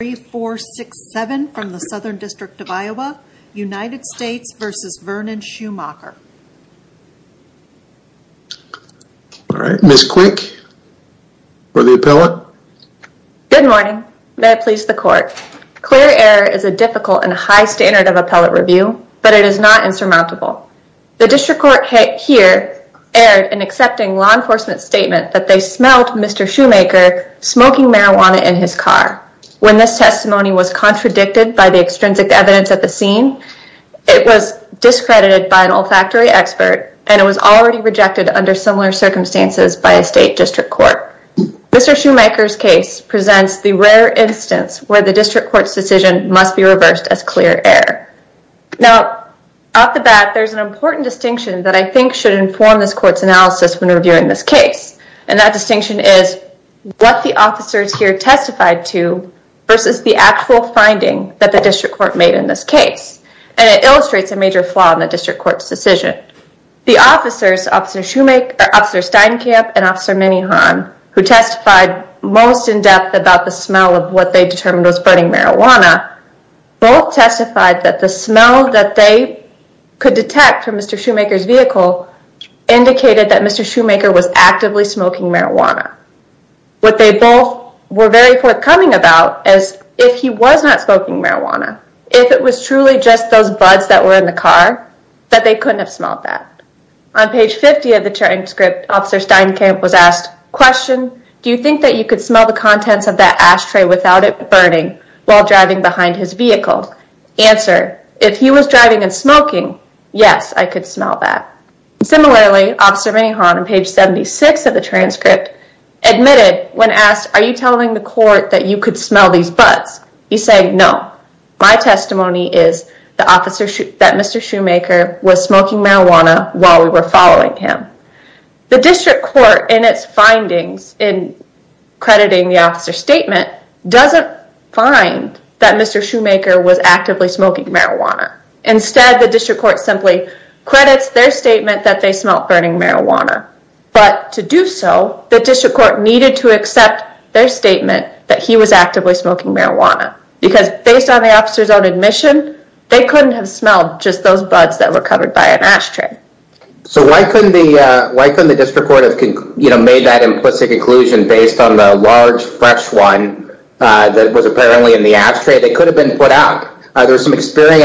3467 from the Southern District of Iowa, United States v. Vernon Shumaker. Alright, Ms. Quick for the appellate. Good morning, may it please the court. Clear error is a difficult and high standard of appellate review, but it is not insurmountable. The district court here erred in accepting law enforcement's statement that they smelled Mr. Shumaker smoking marijuana in his car. When this testimony was contradicted by the extrinsic evidence at the scene, it was discredited by an olfactory expert, and it was already rejected under similar circumstances by a state district court. Mr. Shumaker's case presents the rare instance where the district court's decision must be reversed as clear error. Now, off the bat, there's an important distinction that I think should inform this court's analysis when reviewing this case, and that distinction is what the officers here testified to versus the actual finding that the district court made in this case, and it illustrates a major flaw in the district court's decision. The officers, Officer Steinkamp and Officer Minnehon, who testified most in-depth about the smell of what they determined was burning marijuana, both testified that the smell that they could detect from Mr. Shumaker's vehicle indicated that Mr. Shumaker was actively smoking marijuana. What they both were very forthcoming about is if he was not smoking marijuana, if it was truly just those buds that were in the car, that they couldn't have smelled that. On page 50 of the transcript, Officer Steinkamp was asked, Question, do you think that you could smell the contents of that ashtray without it burning while driving behind his vehicle? Answer, if he was driving and smoking, yes, I could smell that. Similarly, Officer Minnehon, on page 76 of the transcript, admitted when asked, Are you telling the court that you could smell these buds? He's saying, no, my testimony is that Mr. Shumaker was smoking marijuana while we were following him. The district court, in its findings, in crediting the officer's statement, doesn't find that Mr. Shumaker was actively smoking marijuana. Instead, the district court simply credits their statement that they smelt burning marijuana. But to do so, the district court needed to accept their statement that he was actively smoking marijuana. Because based on the officer's own admission, they couldn't have smelled just those buds that were covered by an ashtray. So why couldn't the district court have made that implicit conclusion based on the large, fresh one that was apparently in the ashtray that could have been put out? Are there some testimony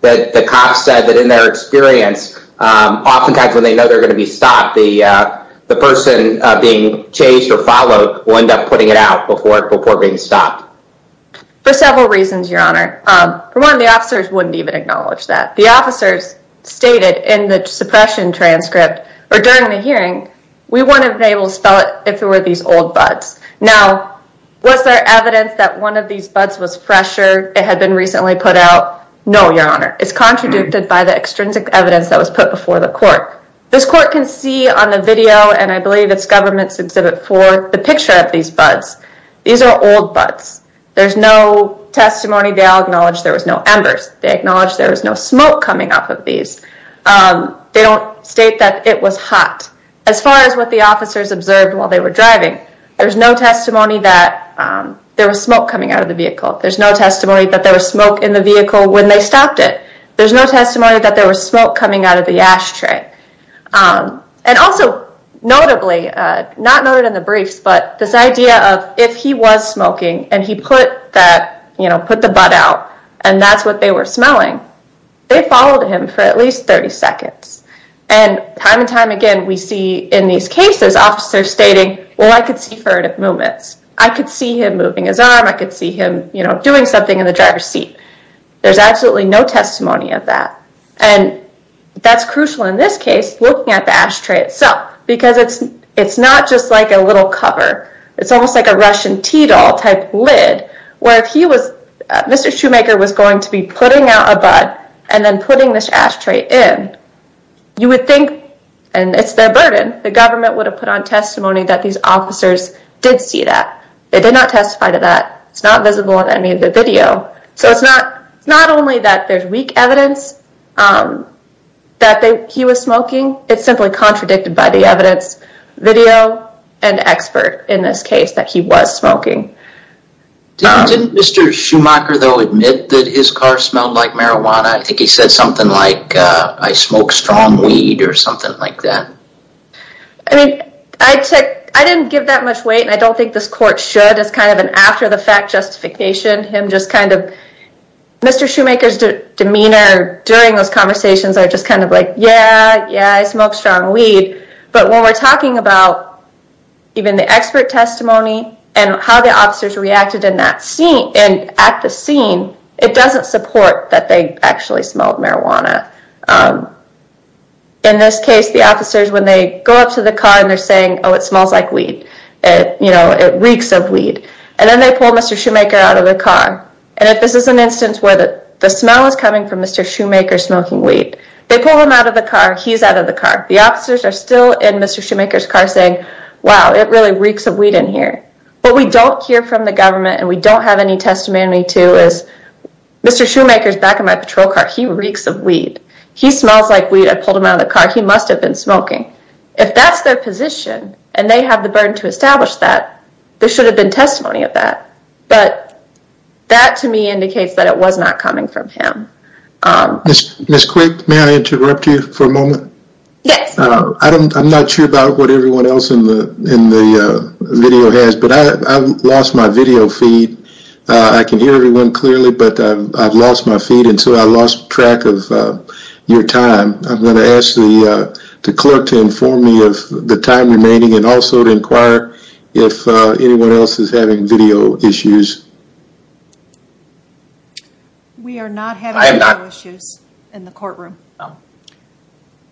that the cops said that in their experience, oftentimes when they know they're going to be stopped, the person being chased or followed will end up putting it out before being stopped? For several reasons, Your Honor. For one, the officers wouldn't even acknowledge that. The officers stated in the suppression transcript, or during the hearing, we wouldn't have been able to spell it if it were these old buds. Now, was there evidence that one of these buds was fresher, it had been recently put out? No, Your Honor. It's contradicted by the extrinsic evidence that was put before the court. This court can see on the video, and I believe it's government's exhibit four, the picture of these buds. These are old buds. There's no testimony. They all acknowledge there was no embers. They acknowledge there was no smoke coming off of these. They don't state that it was hot. As far as what the officers observed while they were driving, there was no testimony that there was smoke coming out of the vehicle. There's no testimony that there was smoke in the vehicle when they stopped it. There's no testimony that there was smoke coming out of the ashtray. And also, notably, not noted in the briefs, but this idea of if he was smoking and he put the bud out, and that's what they were smelling, they followed him for at least 30 seconds. And time and time again, we see in these cases, officers stating, well, I could see furtive movements. I could see him moving his arm. I could see him doing something in the driver's seat. There's absolutely no testimony of that. And that's crucial in this case, looking at the ashtray itself, because it's not just like a little cover. It's almost like a Russian tea doll type lid, where if he was, Mr. Shoemaker was going to be putting out a bud and then putting this ashtray in, you would think, and it's their burden, the government would have put on testimony that these officers did see that. They did not testify to that. It's not visible in any of the video. So it's not only that there's weak evidence that he was smoking, it's simply contradicted by the evidence, video, and expert in this case that he was smoking. Didn't Mr. Shoemaker, though, admit that his car smelled like marijuana? I think he said something like, I smoke strong weed or something like that. I mean, I didn't give that much weight, and I don't think this court should. It's kind of an after the fact justification, him just kind of, Mr. Shoemaker's demeanor during those conversations are just kind of like, yeah, yeah, I smoke strong weed. But when we're talking about even the expert testimony and how the officers reacted in that scene and at the scene, it doesn't support that they actually smelled marijuana. In this case, the officers, when they go up to the car and they're saying, oh, it smells like weed, it reeks of weed, and then they pull Mr. Shoemaker out of the car. And if this is an instance where the smell is coming from Mr. Shoemaker smoking weed, they pull him out of the car, he's out of the car. The officers are still in Mr. Shoemaker's car saying, wow, it really reeks of weed in here. What we don't hear from the government and we don't have any testimony to is, Mr. Shoemaker's back in my patrol car, he reeks of weed. He smells like weed. I pulled him out of the car. He must have been smoking. If that's their position and they have the burden to establish that, there should have been testimony of that. But that, to me, indicates that it was not coming from him. Ms. Quick, may I interrupt you for a moment? Yes. I'm not sure about what everyone else in the video has, but I've lost my video feed. I can hear everyone clearly, but I've lost my feed and so I lost track of your time. I'm going to ask the clerk to inform me of the time remaining and also to inquire if anyone else is having video issues. We are not having video issues in the courtroom. All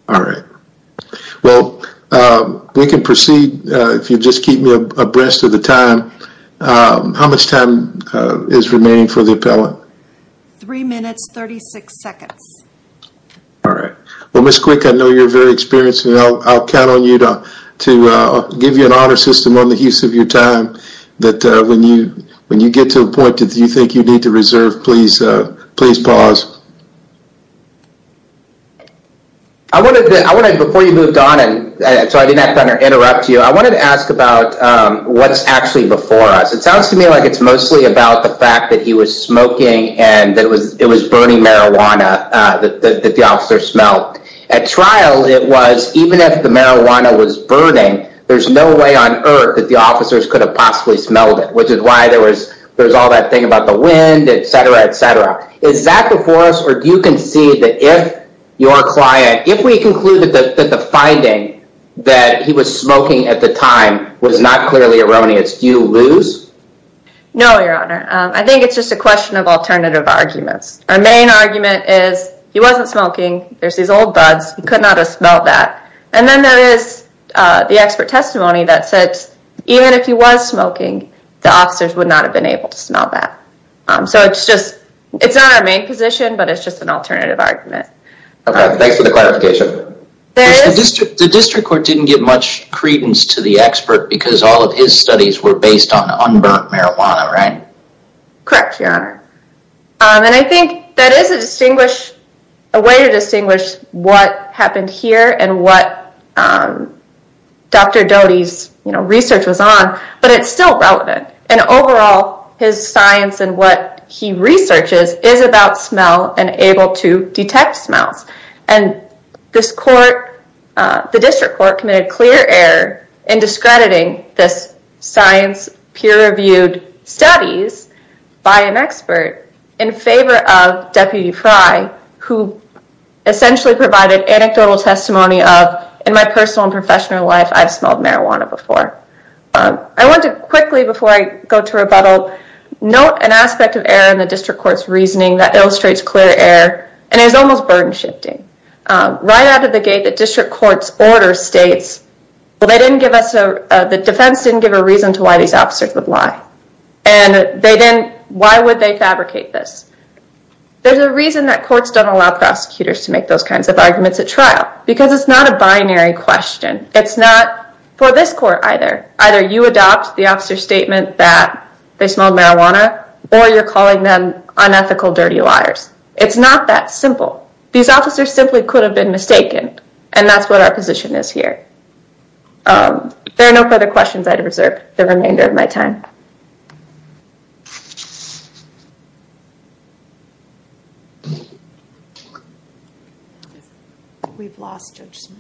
right. Well, we can proceed if you just keep me abreast of the time. How much time is remaining for the appellant? Three minutes, 36 seconds. All right. Well, Ms. Quick, I know you're very experienced and I'll count on you to give you an honor system on the use of your time that when you get to a point that you think you need to reserve, please pause. Before you moved on, and so I didn't have to interrupt you, I wanted to ask about what's actually before us. It sounds to me like it's mostly about the fact that he was smoking and that it was burning marijuana that the officer smelled. At trial, it was even if the marijuana was burning, there's no way on earth that the officers could have possibly smelled it, which is why there was all that thing about the wind, et cetera, et cetera. Is that before us or do you concede that if your client, if we conclude that the finding that he was smoking at the time was not clearly erroneous, do you lose? No, Your Honor. I think it's just a question of alternative arguments. Our main argument is he wasn't smoking. There's these old buds. He could not have smelled that. Then there is the expert testimony that said even if he was smoking, the officers would not have been able to smell that. It's not our main position, but it's just an alternative argument. Okay. Thanks for the clarification. The district court didn't give much credence to the expert because all of his studies were based on unburnt marijuana, right? Correct, Your Honor. I think that is a way to distinguish what happened here and what Dr. Doty's research was on, but it's still relevant. Overall, his science and what he researches is about smell and able to detect smells. This court, the district court, committed clear error in discrediting this science peer expert in favor of Deputy Frye, who essentially provided anecdotal testimony of, in my personal and professional life, I've smelled marijuana before. I want to quickly, before I go to rebuttal, note an aspect of error in the district court's reasoning that illustrates clear error and is almost burden shifting. Right out of the gate, the district court's order states, the defense didn't give a reason to why these officers would lie. Why would they fabricate this? There's a reason that courts don't allow prosecutors to make those kinds of arguments at trial because it's not a binary question. It's not for this court either. Either you adopt the officer's statement that they smelled marijuana, or you're calling them unethical, dirty liars. It's not that simple. These officers simply could have been mistaken, and that's what our position is here. There are no further questions. I reserve the remainder of my time. We've lost Judge Smith.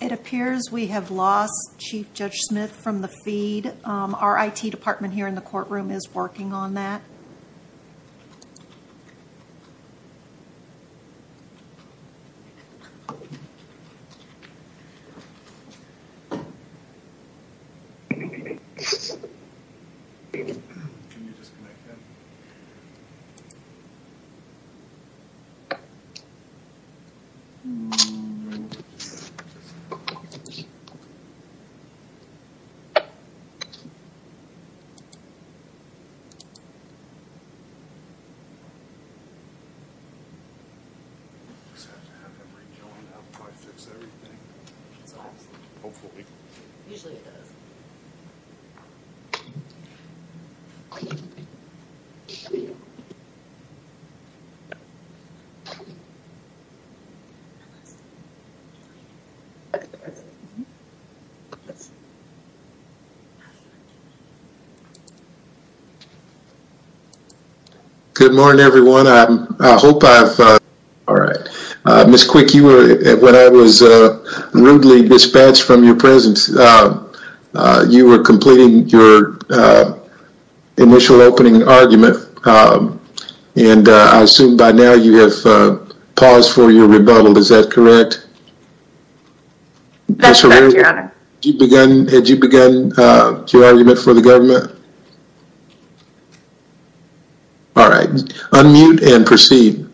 It appears we have lost Chief Judge Smith from the feed. Our IT department here in the courtroom is working on that. We just have to have him rejoin. That'll probably fix everything. Hopefully. Usually it does. Thank you. Good morning, everyone. I hope I've... Ms. Quick, when I was rudely dispatched from your presence, you were completing your initial opening argument, and I assume by now you have paused for your rebuttal. Is that correct? That's correct, Your Honor. Had you begun your argument for the government? All right. Unmute and proceed.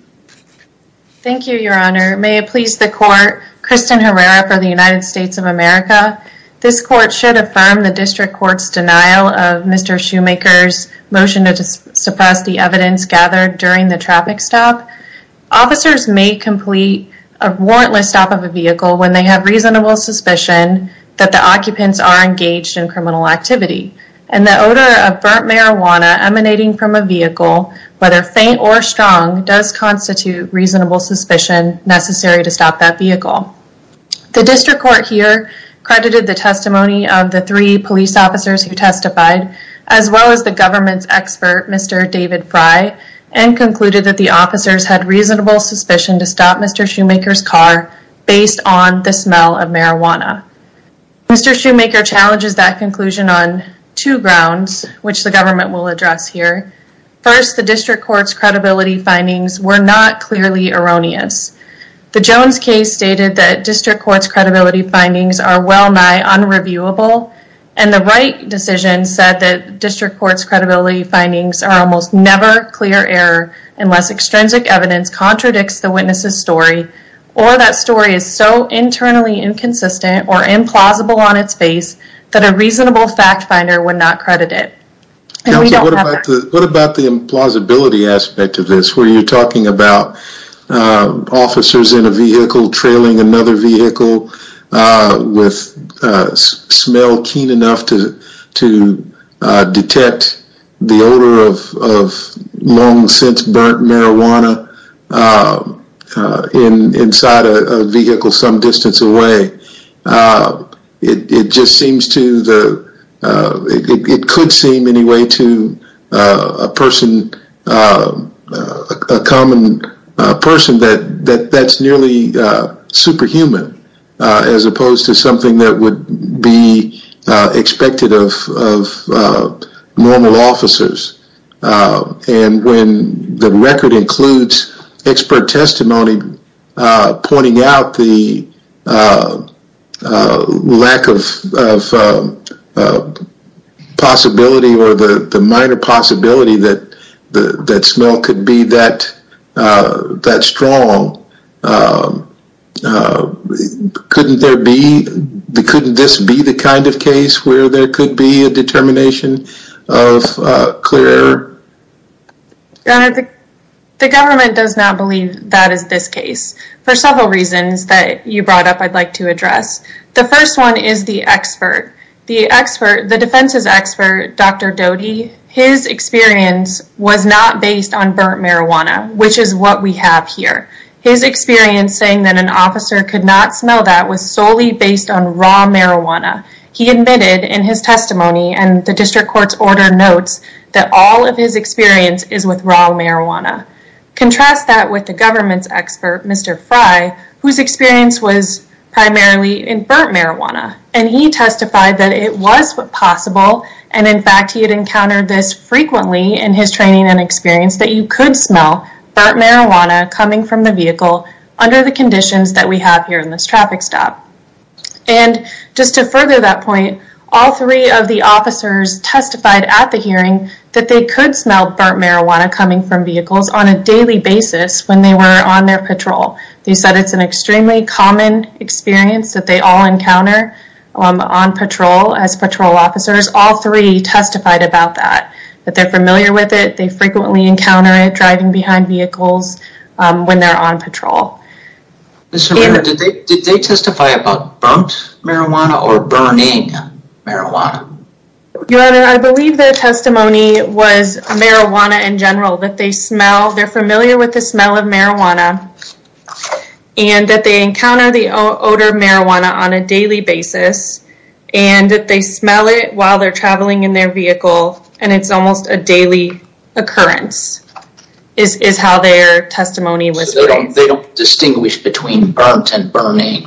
Thank you, Your Honor. Your Honor, may it please the court, Kristen Herrera for the United States of America. This court should affirm the district court's denial of Mr. Shoemaker's motion to suppress the evidence gathered during the traffic stop. Officers may complete a warrantless stop of a vehicle when they have reasonable suspicion that the occupants are engaged in criminal activity. And the odor of burnt marijuana emanating from a vehicle, whether faint or strong, does constitute reasonable suspicion necessary to stop that vehicle. The district court here credited the testimony of the three police officers who testified, as well as the government's expert, Mr. David Fry, and concluded that the officers had reasonable suspicion to stop Mr. Shoemaker's car based on the smell of marijuana. Mr. Shoemaker challenges that conclusion on two grounds, which the government will address here. First, the district court's credibility findings were not clearly erroneous. The Jones case stated that district court's credibility findings are well nigh unreviewable, and the Wright decision said that district court's credibility findings are almost never clear error unless extrinsic evidence contradicts the witness's story or that story is so internally inconsistent or implausible on its face that a reasonable fact finder would not credit it. And we don't have that. What about the implausibility aspect of this where you're talking about officers in a vehicle trailing another vehicle with a smell keen enough to detect the odor of long since burnt marijuana inside a vehicle some distance away? It just seems to the... It just doesn't seem anyway to a person... a common person that's nearly superhuman as opposed to something that would be expected of normal officers. And when the record includes expert testimony pointing out the lack of possibility or the minor possibility that smell could be that strong couldn't there be couldn't this be the kind of case where there could be a determination of clear error? The government does not believe that is this case for several reasons that you brought up I'd like to address. The first one is the expert. The expert, the defense's expert Dr. Doty his experience was not based on burnt marijuana which is what we have here. His experience saying that an officer could not smell that was solely based on raw marijuana. He admitted in his testimony and the district court's order notes that all of his experience is with raw marijuana. Contrast that with the government's expert Mr. Frye whose experience was primarily in burnt marijuana and he testified that it was possible and in fact he had encountered this frequently in his training and experience that you could smell burnt marijuana coming from the vehicle under the conditions that we have here in this traffic stop. And just to further that point all three of the officers testified at the hearing that they could smell burnt marijuana coming from vehicles on a daily basis when they were on their patrol. They said it's an extremely common experience that they all encounter on patrol as patrol officers. All three testified about that. That they're familiar with it they frequently encounter it driving behind vehicles when they're on patrol. Did they testify about burnt marijuana or burning marijuana? Your Honor, I believe their testimony was marijuana in general that they smell, they're familiar with the smell of marijuana and that they encounter the odor of marijuana on a daily basis and that they smell it while they're traveling in their vehicle and it's almost a daily occurrence is how their testimony was They don't distinguish between burnt and burning?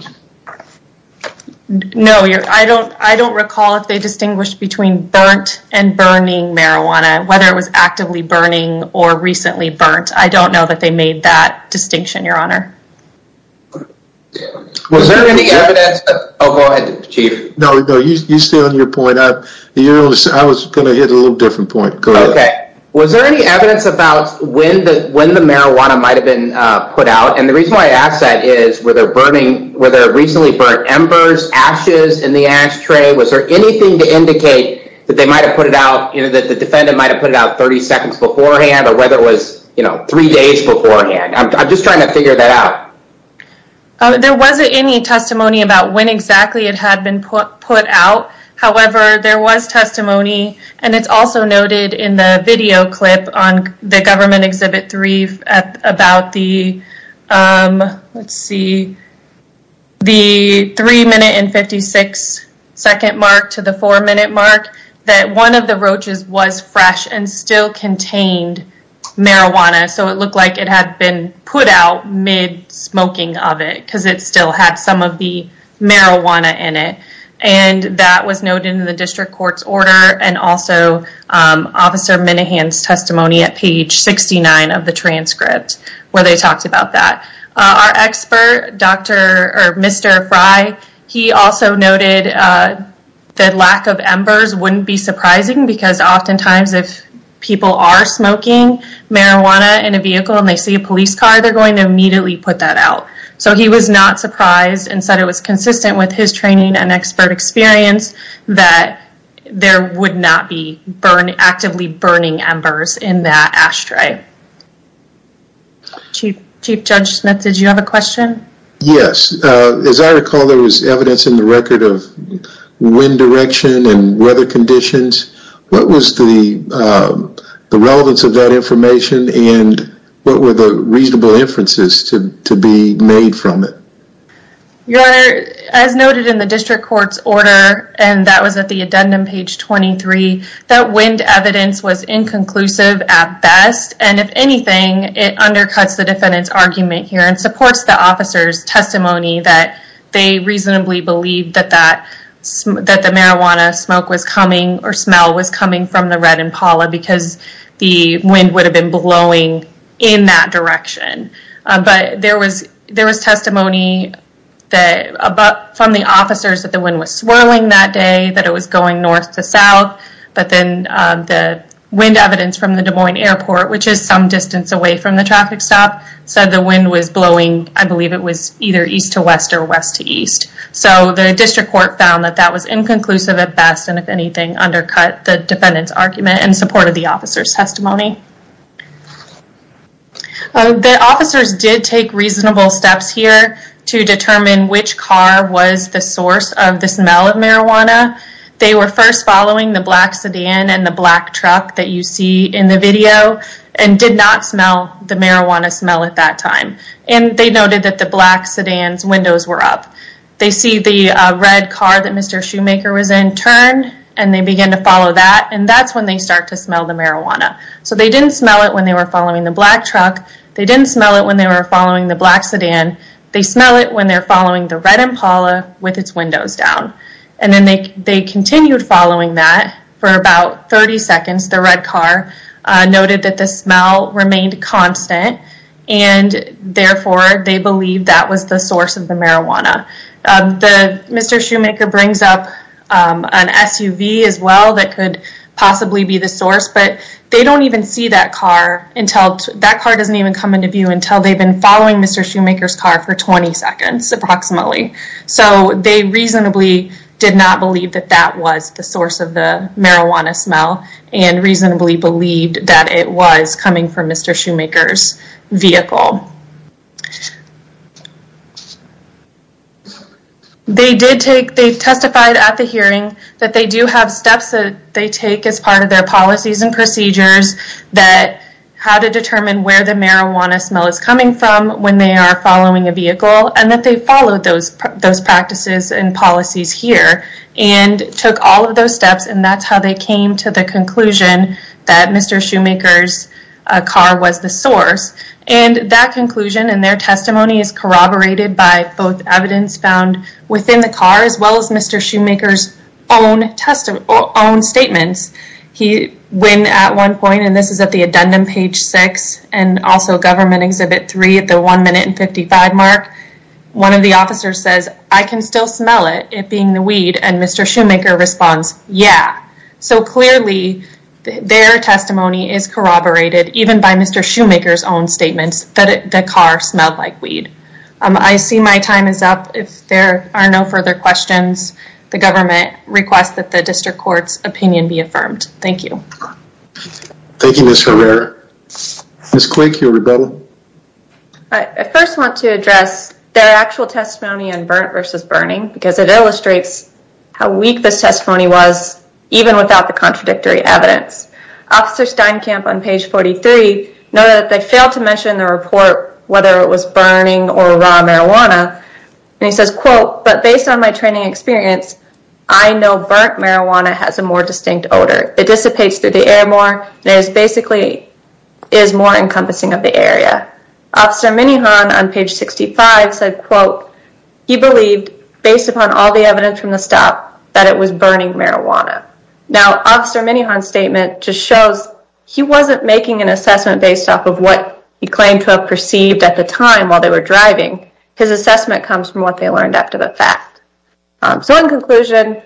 No, I don't recall if they distinguished between burnt and burning marijuana whether it was actively burning or recently burnt. I don't know that they made that distinction, Your Honor. Was there any evidence Oh, go ahead, Chief. No, you stay on your point I was going to hit a little different point. Go ahead. Was there any evidence about when the marijuana might have been put out? And the reason why I ask that is were there recently burnt embers, ashes in the ashtray? Was there anything to indicate that the defendant might have put it out 30 seconds beforehand or whether it was three days beforehand? I'm just trying to figure that out. There wasn't any testimony about when exactly it had been put out. However, there was testimony and it's also noted in the video clip on the Government Exhibit 3 about the let's see the 3 minute and 56 second mark to the 4 minute mark that one of the roaches was fresh and still contained marijuana. So it looked like it had been put out mid-smoking of it because it still had some of the marijuana in it. And that was noted in the District Court's order and also Officer Minahan's testimony at page 69 of the transcript where they talked about that. Our expert, Mr. Fry, he also noted that lack of embers wouldn't be surprising because oftentimes if people are smoking marijuana in a vehicle and they see a police car, they're going to immediately put that out. So he was not surprised and said it was consistent with his training and expert experience that there would embers in that ashtray. Chief Judge Smith, did you have a question? Yes. As I recall there was evidence in the record of wind direction and weather conditions. What was the relevance of that information and what were the reasonable inferences to be made from it? Your Honor, as noted in the District Court's order and that was at the addendum page 23 that wind evidence was inconclusive at best and if anything it undercuts the defendant's officer's testimony that they reasonably believed that the marijuana smoke was coming or smell was coming from the red Impala because the wind would have been blowing in that direction. There was testimony from the officers that the wind was swirling that day, that it was going north to south but then the wind evidence from the Des Moines Airport, which is some distance away from the traffic stop said the wind was blowing I believe it was either east to west or west to east. So the District Court found that that was inconclusive at best and if anything undercut the defendant's argument and supported the officer's testimony. The officers did take reasonable steps here to determine which car was the source of the smell of marijuana. They were first following the black sedan and the black truck that you see in the video and did not smell the marijuana smell at that time. They noted that the black sedan's windows were up. They see the red car that Mr. Shoemaker was in turn and they begin to follow that and that's when they start to smell the marijuana. So they didn't smell it when they were following the black truck. They didn't smell it when they were following the black sedan. They smell it when they're following the red Impala with its windows down. And then they continued following that for about 30 seconds. The red car noted that the smell remained constant and therefore they believed that was the source of the marijuana. Mr. Shoemaker brings up an SUV as well that could possibly be the source but they don't even see that car until that car doesn't even come into view until they've been following Mr. Shoemaker's car for 20 seconds approximately. So they reasonably did not believe that that was the source of the marijuana smell and reasonably believed that it was coming from Mr. Shoemaker's vehicle. They testified at the hearing that they do have steps that they take as part of their policies and procedures that how to determine where the marijuana smell is coming from when they are following a vehicle and that they followed those practices and policies here and took all of those steps and that's how they came to the conclusion that Mr. Shoemaker's car was the source and that conclusion and their testimony is corroborated by both evidence found within the car as well as Mr. Shoemaker's own statements. When at one point and this is at the addendum page 6 and also government exhibit 3 at the 1 minute and 55 mark one of the officers says I can still smell it, it being the weed and Mr. Shoemaker responds yeah. So clearly their testimony is corroborated even by Mr. Shoemaker's own statements that the car smelled like weed. I see my time is up. If there are no further questions, the government requests that the district court's opinion be affirmed. Thank you. Thank you Ms. Herrera. Ms. Quick your rebuttal. I first want to address their actual testimony on burnt versus burning because it illustrates how weak this testimony was even without the contradictory evidence. Officer Steinkamp on page 43 noted that they failed to mention in the report whether it was burning or raw marijuana and he says quote, but based on my training experience, I know burnt marijuana has a more distinct odor. It dissipates through the air more and is basically more encompassing of the area. Officer Minihan on page 65 said quote, he believed based upon all the evidence from the stop that it was burning marijuana. Now Officer Minihan's statement just shows he wasn't making an assessment based off of what he claimed to have perceived at the time while they were driving. His assessment comes from what they learned after the fact. So in conclusion,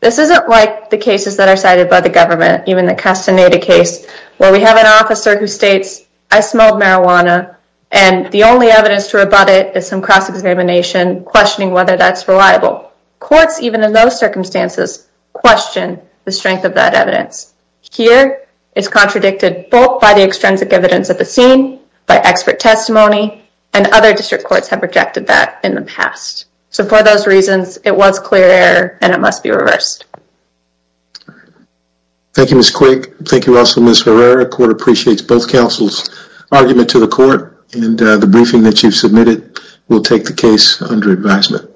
this isn't like the cases that are cited by the government, even the Castaneda case where we have an officer who states, I smelled marijuana and the only evidence to rebut it is some cross-examination questioning whether that's reliable. Courts, even in those circumstances, question the strength of that evidence. Here, it's contradicted both by the extrinsic evidence at the scene, by expert testimony, and other district courts have rejected that in the past. So for those reasons, it was clear error and it must be reversed. Thank you Ms. Quick. Thank you also Ms. Herrera. Court appreciates both counsel's argument to the court and the briefing that you've submitted. We'll take the case under advisement.